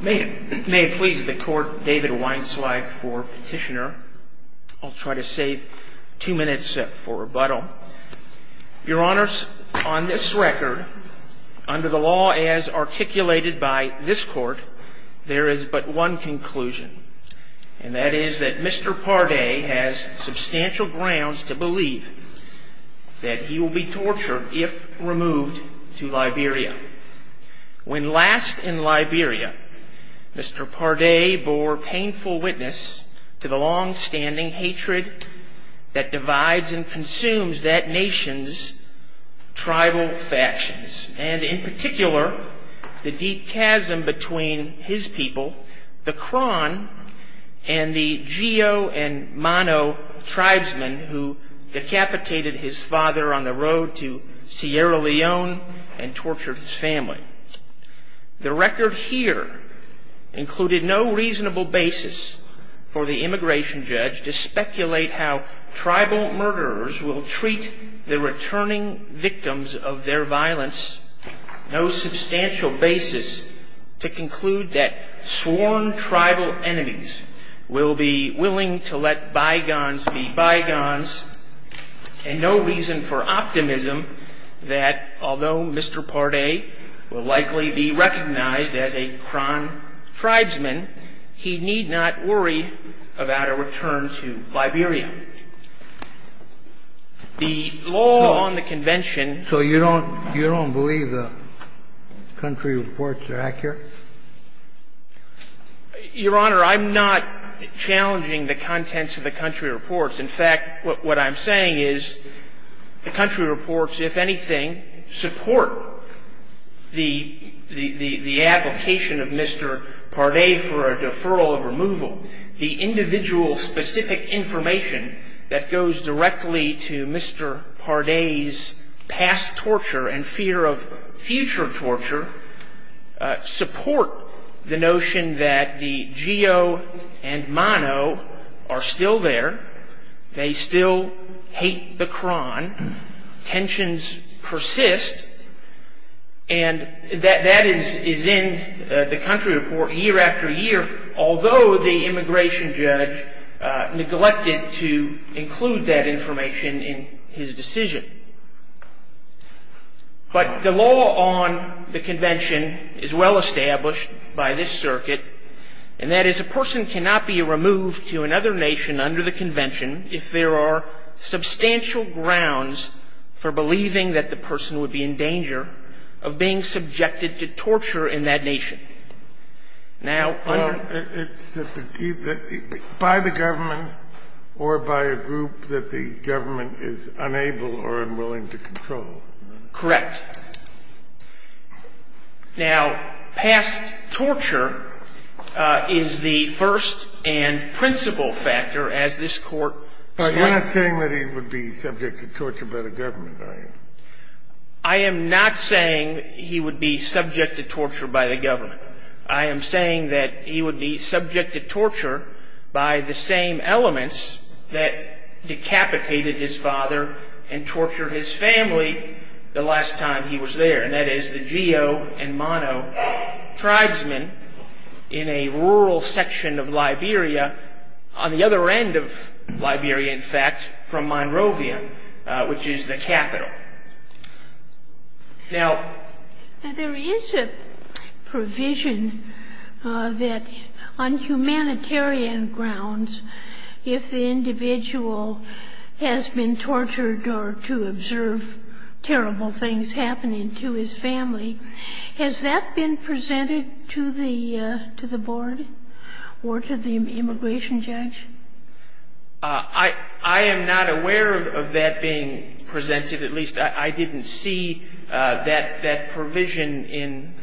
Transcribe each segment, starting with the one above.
May it please the Court, David Weinzweig for Petitioner. I'll try to save two minutes for rebuttal. Your Honors, on this record, under the law as articulated by this Court, there is but one conclusion. And that is that Mr. Pardae has substantial grounds to believe that he will be tortured if removed to Liberia. When last in Liberia, Mr. Pardae bore painful witness to the longstanding hatred that divides and consumes that nation's tribal factions. And in particular, the deep chasm between his people, the Kron, and the Gio and Mano tribesmen who decapitated his father on the road to Sierra Leone and tortured his family. The record here included no reasonable basis for the immigration judge to speculate how tribal murderers will treat the returning victims of their violence. No substantial basis to conclude that sworn tribal enemies will be willing to let bygones be bygones. And no reason for optimism that although Mr. Pardae will likely be recognized as a Kron tribesman, he need not worry about a return to Liberia. And the law on the Convention ‑‑ So you don't ‑‑ you don't believe the country reports are accurate? Your Honor, I'm not challenging the contents of the country reports. In fact, what I'm saying is the country reports, if anything, support the ‑‑ the application of Mr. Pardae for a deferral of removal. The individual specific information that goes directly to Mr. Pardae's past torture and fear of future torture support the notion that the Gio and Mano are still there. They still hate the Kron. Tensions persist. And that is in the country report year after year, although the immigration judge neglected to include that information in his decision. But the law on the Convention is well established by this circuit, and that is a person cannot be removed to another nation under the Convention if there are substantial grounds for believing that the person would be in danger of being subjected to torture in that nation. Now, under ‑‑ It's either by the government or by a group that the government is unable or unwilling to control. Correct. Now, past torture is the first and principal factor, as this Court states. But you're not saying that he would be subject to torture by the government, are you? I am not saying he would be subject to torture by the government. I am saying that he would be subject to torture by the same elements that decapitated his father and tortured his family the last time he was there, and that is the Gio and Mano tribesmen in a rural section of Liberia, on the other end of Liberia, in fact, from Monrovia, which is the capital. Now, there is a provision that on humanitarian grounds, if the individual has been tortured or to observe terrible things happening to his family, has that been presented to the board or to the immigration judge? I am not aware of that being presented. At least I didn't see that provision in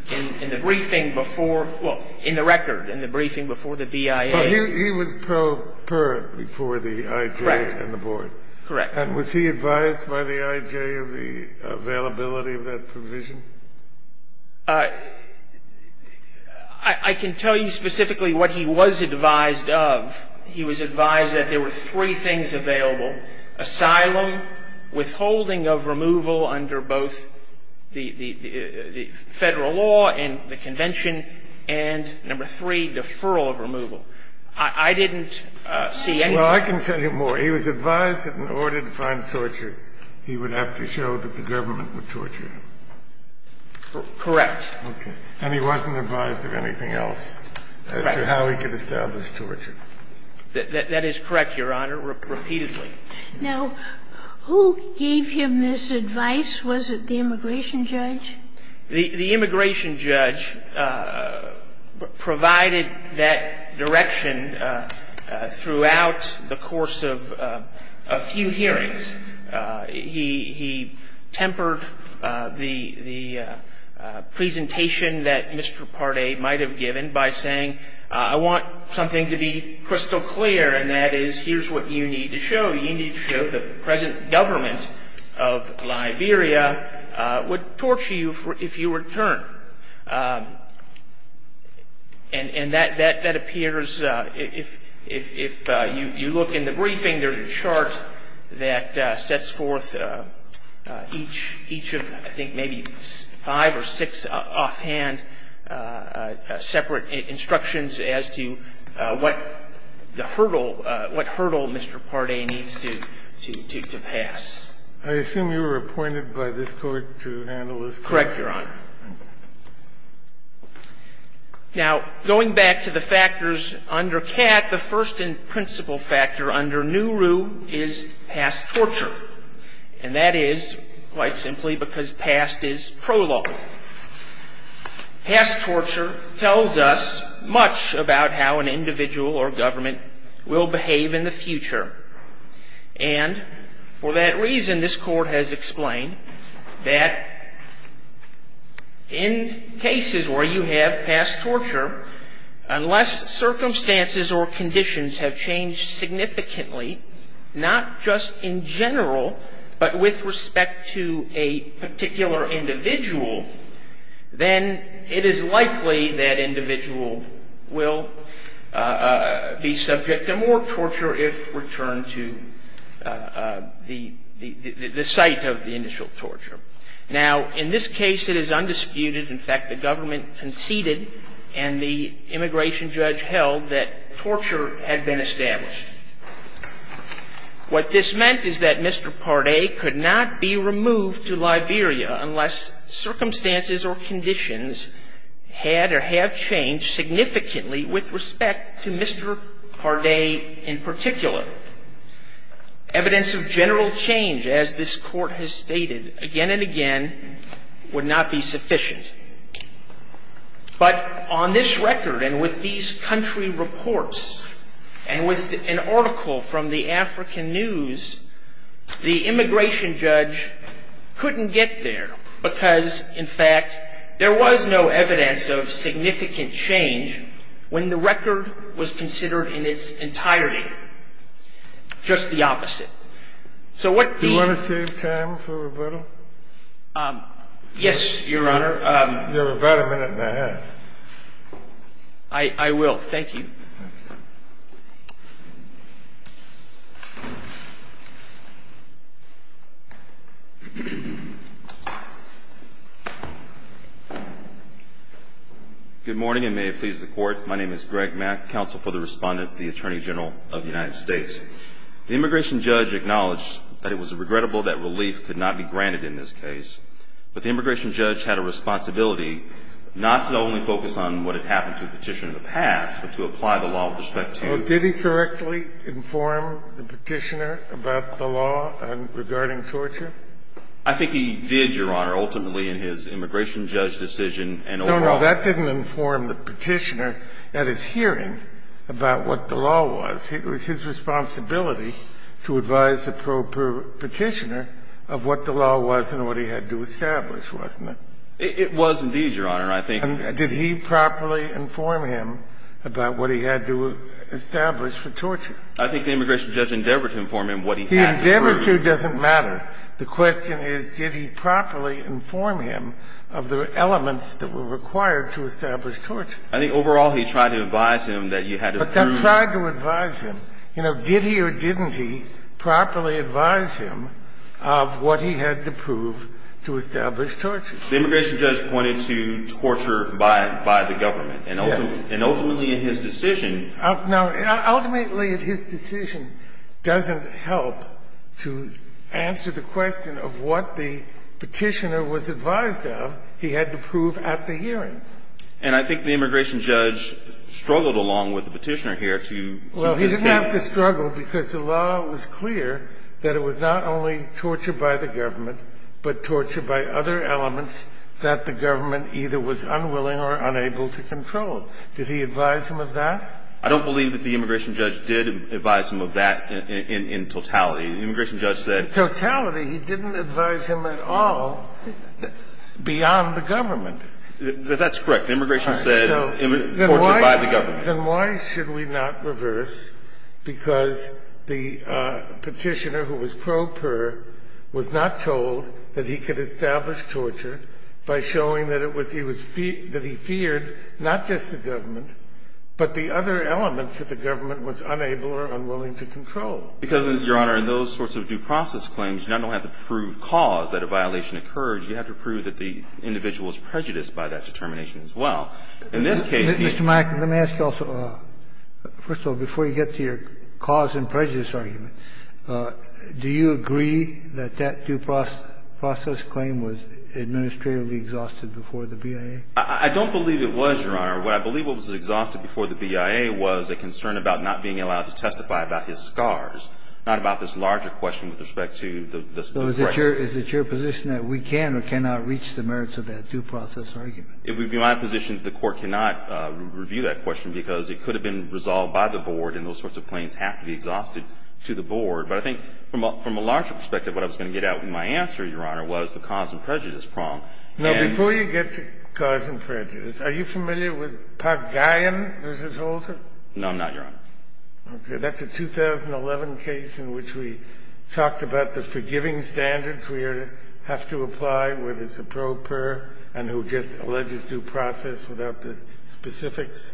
the briefing before ‑‑ well, in the record, in the briefing before the BIA. He was prepared before the IJ and the board. Correct. And was he advised by the IJ of the availability of that provision? I can tell you specifically what he was advised of. He was advised that there were three things available, asylum, withholding of removal under both the federal law and the convention, and number three, deferral of removal. I didn't see any of that. Well, I can tell you more. He was advised that in order to find torture, he would have to show that the government would torture him. Correct. Okay. And he wasn't advised of anything else as to how he could establish torture. That is correct, Your Honor, repeatedly. Now, who gave him this advice? Was it the immigration judge? The immigration judge provided that direction throughout the course of a few hearings. He tempered the presentation that Mr. Partey might have given by saying, I want something to be crystal clear, and that is, here's what you need to show. You need to show the present government of Liberia would torture you if you return. And that appears, if you look in the briefing, there's a chart that sets forth each of, I think, maybe five or six offhand separate instructions as to what the hurdle, what hurdle Mr. Partey needs to pass. I assume you were appointed by this Court to handle this case? Correct, Your Honor. Now, going back to the factors under Catt, the first and principal factor under Neuru is past torture, and that is, quite simply, because past is prologue. Past torture tells us much about how an individual or government will behave in the future. And for that reason, this Court has explained that in cases where you have past torture, unless circumstances or conditions have changed significantly, not just in general, but with respect to a particular individual, then it is likely that individual will be subject to more torture if returned to the site of the initial torture. Now, in this case, it is undisputed. In fact, the government conceded and the immigration judge held that torture had been established. What this meant is that Mr. Partey could not be removed to Liberia unless circumstances or conditions had or have changed significantly with respect to Mr. Partey in particular. Evidence of general change, as this Court has stated again and again, would not be sufficient. But on this record and with these country reports and with an article from the African News, the immigration judge couldn't get there because, in fact, there was no evidence of significant change when the record was considered in its entirety, just the opposite. Do you want to save time for rebuttal? Yes, Your Honor. You have about a minute and a half. I will. Thank you. Good morning, and may it please the Court. My name is Greg Mack, counsel for the Respondent, the Attorney General of the United States. The immigration judge acknowledged that it was regrettable that relief could not be granted in this case. But the immigration judge had a responsibility not to only focus on what had happened to a petition in the past, but to apply the law with respect to him. Well, did he correctly inform the petitioner about the law regarding torture? I think he did, Your Honor, ultimately in his immigration judge decision and overall. No, no, that didn't inform the petitioner at his hearing about what the law was. It was his responsibility to advise the petitioner of what the law was and what he had to establish, wasn't it? It was indeed, Your Honor. And did he properly inform him about what he had to establish for torture? I think the immigration judge endeavored to inform him what he had to prove. He endeavored to. It doesn't matter. The question is, did he properly inform him of the elements that were required to establish torture? I think overall he tried to advise him that you had to prove. But that tried to advise him. You know, did he or didn't he properly advise him of what he had to prove to establish torture? The immigration judge pointed to torture by the government. Yes. And ultimately in his decision – Now, ultimately his decision doesn't help to answer the question of what the petitioner was advised of he had to prove at the hearing. And I think the immigration judge struggled along with the petitioner here to – Well, he didn't have to struggle because the law was clear that it was not only torture by the government, but torture by other elements that the government either was unwilling or unable to control. Did he advise him of that? I don't believe that the immigration judge did advise him of that in totality. The immigration judge said – Totality? He didn't advise him at all beyond the government. That's correct. Immigration said torture by the government. Then why should we not reverse because the petitioner who was pro per was not told that he could establish torture by showing that it was – that he feared not just the government, but the other elements that the government was unable or unwilling to control? Because, Your Honor, in those sorts of due process claims, you not only have to prove cause that a violation occurred, you have to prove that the individual was prejudiced by that determination as well. In this case, he – Mr. Mack, let me ask you also – first of all, before you get to your cause and prejudice argument, do you agree that that due process claim was administratively exhausted before the BIA? I don't believe it was, Your Honor. What I believe was exhausted before the BIA was a concern about not being allowed to testify about his scars, not about this larger question with respect to the suppression. So is it your position that we can or cannot reach the merits of that due process argument? It would be my position that the Court cannot review that question because it could have been resolved by the Board and those sorts of claims have to be exhausted to the Board. But I think from a larger perspective, what I was going to get out in my answer, Your Honor, was the cause and prejudice prong. And – Now, before you get to cause and prejudice, are you familiar with Park Guyon v. Holder? No, I'm not, Your Honor. Okay. That's a 2011 case in which we talked about the forgiving standards. Do we have to apply whether it's a pro per and who just alleges due process without the specifics?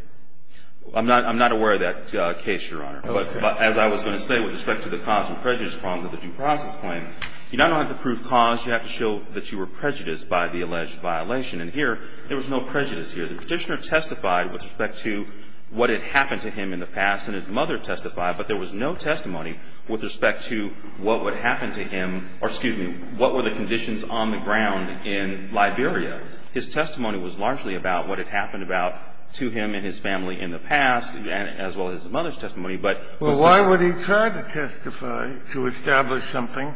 I'm not aware of that case, Your Honor. Okay. But as I was going to say with respect to the cause and prejudice prongs of the due process claim, you not only have to prove cause, you have to show that you were prejudiced by the alleged violation. And here, there was no prejudice here. The Petitioner testified with respect to what had happened to him in the past and his mother testified, but there was no testimony with respect to what would happen to him or, excuse me, what were the conditions on the ground in Liberia. His testimony was largely about what had happened about to him and his family in the past, as well as his mother's testimony, but – Well, why would he try to testify to establish something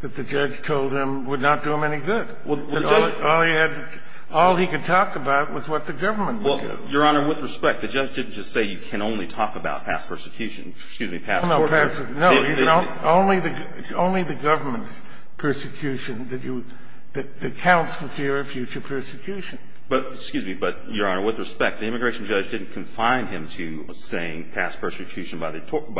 that the judge told him would not do him any good? All he had – all he could talk about was what the government did to him. Well, Your Honor, with respect, the judge didn't just say you can only talk about past persecution – excuse me, past – No, no, no. Only the government's persecution that counts for fear of future persecution. But, excuse me, but, Your Honor, with respect, the immigration judge didn't confine him to saying past persecution by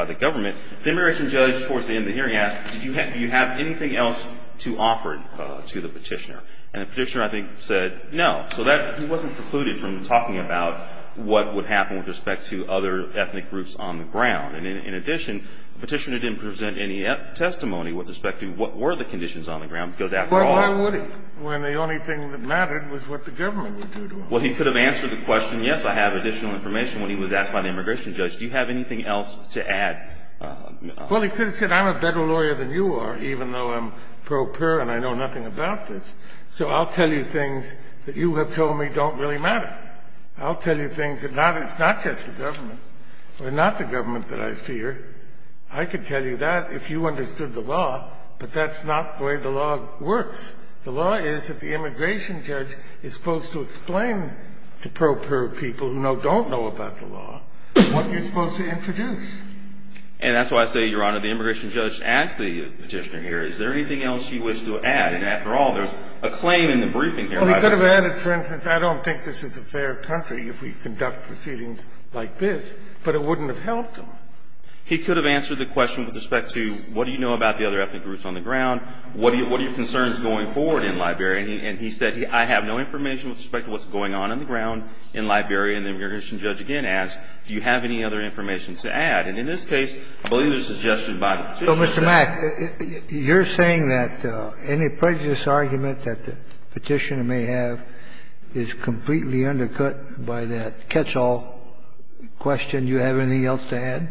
the government. The immigration judge, towards the end of the hearing, asked, do you have anything else to offer to the Petitioner? And the Petitioner, I think, said no. So that – he wasn't precluded from talking about what would happen with respect to other ethnic groups on the ground. And in addition, the Petitioner didn't present any testimony with respect to what were the conditions on the ground, because after all – Well, why would he, when the only thing that mattered was what the government would do to him? Well, he could have answered the question, yes, I have additional information, when he was asked by the immigration judge. Do you have anything else to add? Well, he could have said, I'm a better lawyer than you are, even though I'm pro pur, and I know nothing about this. So I'll tell you things that you have told me don't really matter. I'll tell you things that it's not just the government, or not the government that I fear. I could tell you that if you understood the law, but that's not the way the law works. The law is that the immigration judge is supposed to explain to pro pur people who don't know about the law what you're supposed to introduce. And that's why I say, Your Honor, the immigration judge asked the Petitioner here, is there anything else you wish to add? And after all, there's a claim in the briefing here. He could have said, well, he could have added, for instance, I don't think this is a fair country if we conduct proceedings like this, but it wouldn't have helped him. He could have answered the question with respect to what do you know about the other ethnic groups on the ground, what are your concerns going forward in Liberia, and he said, I have no information with respect to what's going on on the ground in Liberia. And the immigration judge again asked, do you have any other information And in this case, I believe it was suggested by the Petitioner. So, Mr. Mack, you're saying that any prejudice argument that the Petitioner may have is completely undercut by that catch-all question. Do you have anything else to add?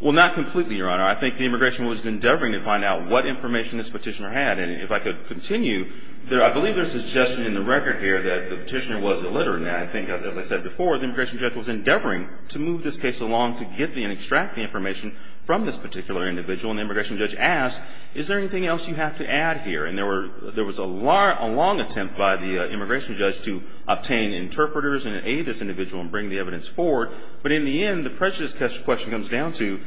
Well, not completely, Your Honor. I think the immigration judge was endeavoring to find out what information this Petitioner had. And if I could continue, I believe there's a suggestion in the record here that the Petitioner was illiterate. And I think, as I said before, the immigration judge was endeavoring to move this case along to get and extract the information from this particular individual. And the immigration judge asked, is there anything else you have to add here? And there was a long attempt by the immigration judge to obtain interpreters and aid this individual and bring the evidence forward. But in the end, the prejudice question comes down to,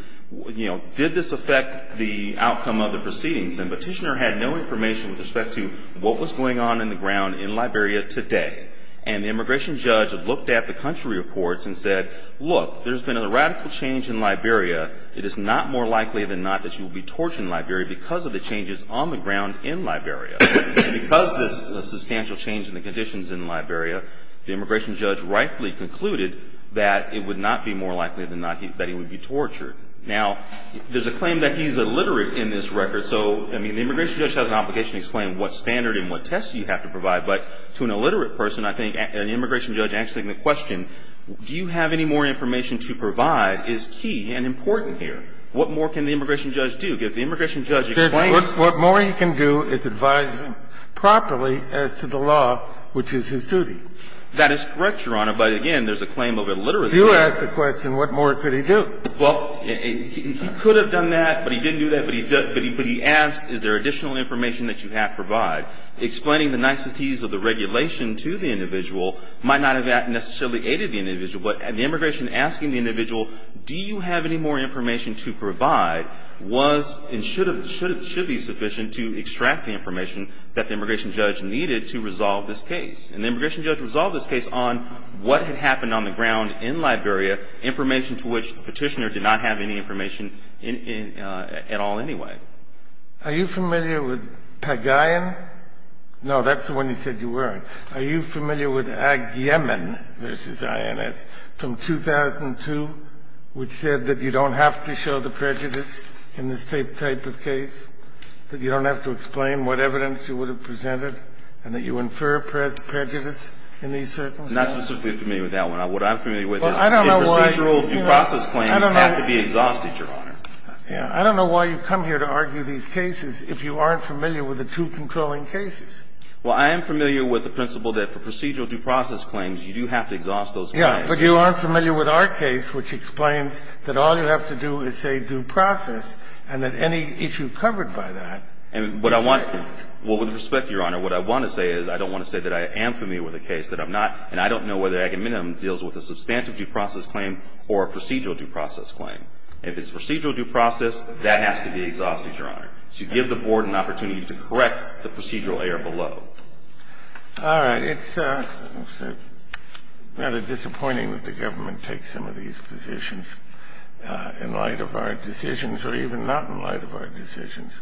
you know, did this affect the outcome of the proceedings? And the Petitioner had no information with respect to what was going on on the ground in Liberia today. And the immigration judge looked at the country reports and said, look, there's been a radical change in Liberia. It is not more likely than not that you will be tortured in Liberia because of the changes on the ground in Liberia. Because of this substantial change in the conditions in Liberia, the immigration judge rightfully concluded that it would not be more likely than not that he would be tortured. Now, there's a claim that he's illiterate in this record. So, I mean, the immigration judge has an obligation to explain what standard and what tests you have to provide. But to an illiterate person, I think an immigration judge answering the question, do you have any more information to provide, is key and important here. What more can the immigration judge do? If the immigration judge explains to him. Kennedy, what more he can do is advise him properly as to the law, which is his duty. That is correct, Your Honor. But, again, there's a claim of illiteracy. If you ask the question, what more could he do? Well, he could have done that, but he didn't do that. But he asked, is there additional information that you have to provide. Explaining the niceties of the regulation to the individual might not have necessarily aided the individual. But the immigration asking the individual, do you have any more information to provide, was and should have been sufficient to extract the information that the immigration judge needed to resolve this case. And the immigration judge resolved this case on what had happened on the ground in Liberia, information to which the Petitioner did not have any information at all anyway. Are you familiar with Pagayan? No, that's the one you said you weren't. Are you familiar with Ag Yemen v. INS from 2002, which said that you don't have to show the prejudice in this type of case, that you don't have to explain what evidence you would have presented, and that you infer prejudice in these circumstances? I'm not specifically familiar with that one. What I'm familiar with is procedural due process claims have to be exhausted, Your Honor. I don't know why you come here to argue these cases if you aren't familiar with the two controlling cases. Well, I am familiar with the principle that for procedural due process claims, you do have to exhaust those claims. Yes, but you aren't familiar with our case, which explains that all you have to do is say due process, and that any issue covered by that. And what I want to do, well, with respect, Your Honor, what I want to say is I don't want to say that I am familiar with a case that I'm not, and I don't know whether Ag Yemen deals with a substantive due process claim or a procedural due process claim. If it's procedural due process, that has to be exhausted, Your Honor. And I don't want to say that I am familiar with a case that I'm not, and I don't due process claim. I just want to say that this is a case where I have to give the board an opportunity to correct the procedural error below. All right. It's rather disappointing that the government takes some of these positions in light of our decisions or even not in light of our decisions.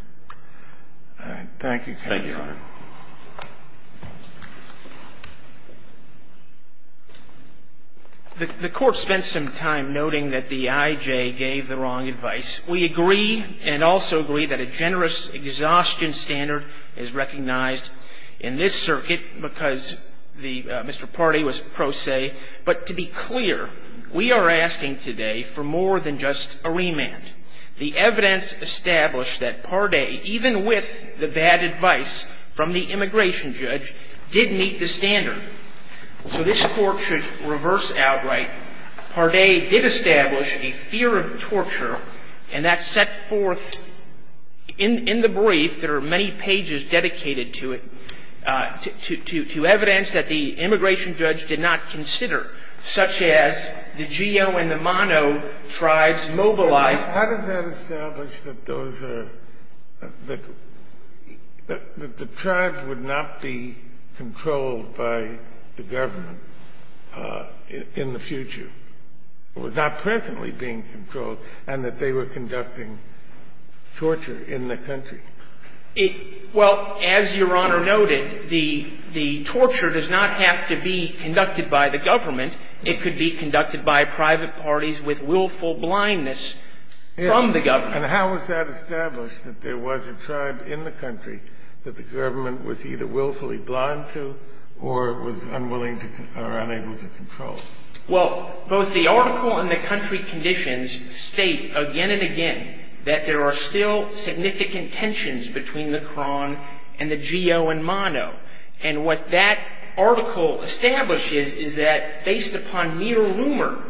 Thank you, counsel. Thank you, Your Honor. The Court spent some time noting that the IJ gave the wrong advice. We agree and also agree that a generous exhaustion standard is recognized in this circuit because Mr. Pardee was pro se. But to be clear, we are asking today for more than just a remand. The evidence established that Pardee, even with the bad advice from the immigration judge, did meet the standard. So this Court should reverse outright. Pardee did establish a fear of torture, and that's set forth in the brief. There are many pages dedicated to it, to evidence that the immigration judge did not Why does that establish that the tribes would not be controlled by the government in the future? It was not presently being controlled and that they were conducting torture in the country. Well, as Your Honor noted, the torture does not have to be conducted by the government. It could be conducted by private parties with willful blindness. And how is that established, that there was a tribe in the country that the government was either willfully blind to or was unwilling or unable to control? Well, both the article and the country conditions state again and again that there are still significant tensions between the Cron and the Geo and Mono. And what that article establishes is that based upon mere rumor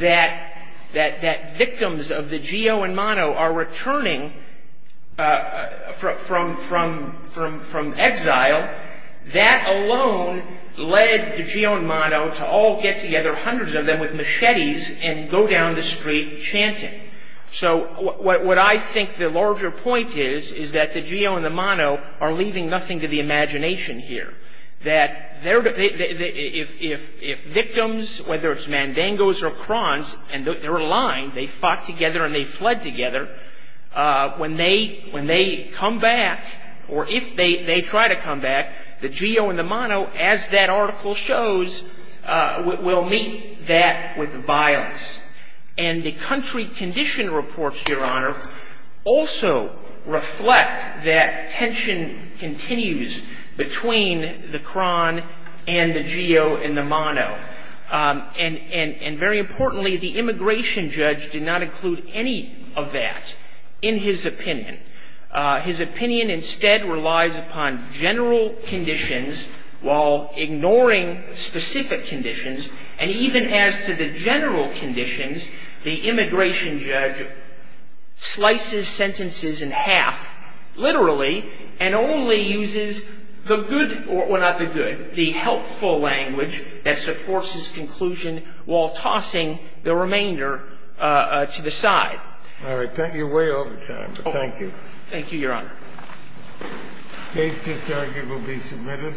that victims of the Geo and Mono are returning from exile, that alone led the Geo and Mono to all get together, hundreds of them with machetes, and go down the street chanting. So what I think the larger point is, is that the Geo and the Mono are leaving nothing to the imagination here. That if victims, whether it's Mandangos or Crons, and they're aligned, they fought together and they fled together, when they come back, or if they try to come back, the Geo and the Mono, as that article shows, will meet that with violence. And the country condition reports, Your Honor, also reflect that tension continues between the Cron and the Geo and the Mono. And very importantly, the immigration judge did not include any of that in his opinion. His opinion instead relies upon general conditions while ignoring specific conditions. And even as to the general conditions, the immigration judge slices sentences in half, literally, and only uses the good, well, not the good, the helpful language that supports his conclusion while tossing the remainder to the side. All right. Thank you. You're way over time. Thank you. Thank you, Your Honor. The case disargued will be submitted.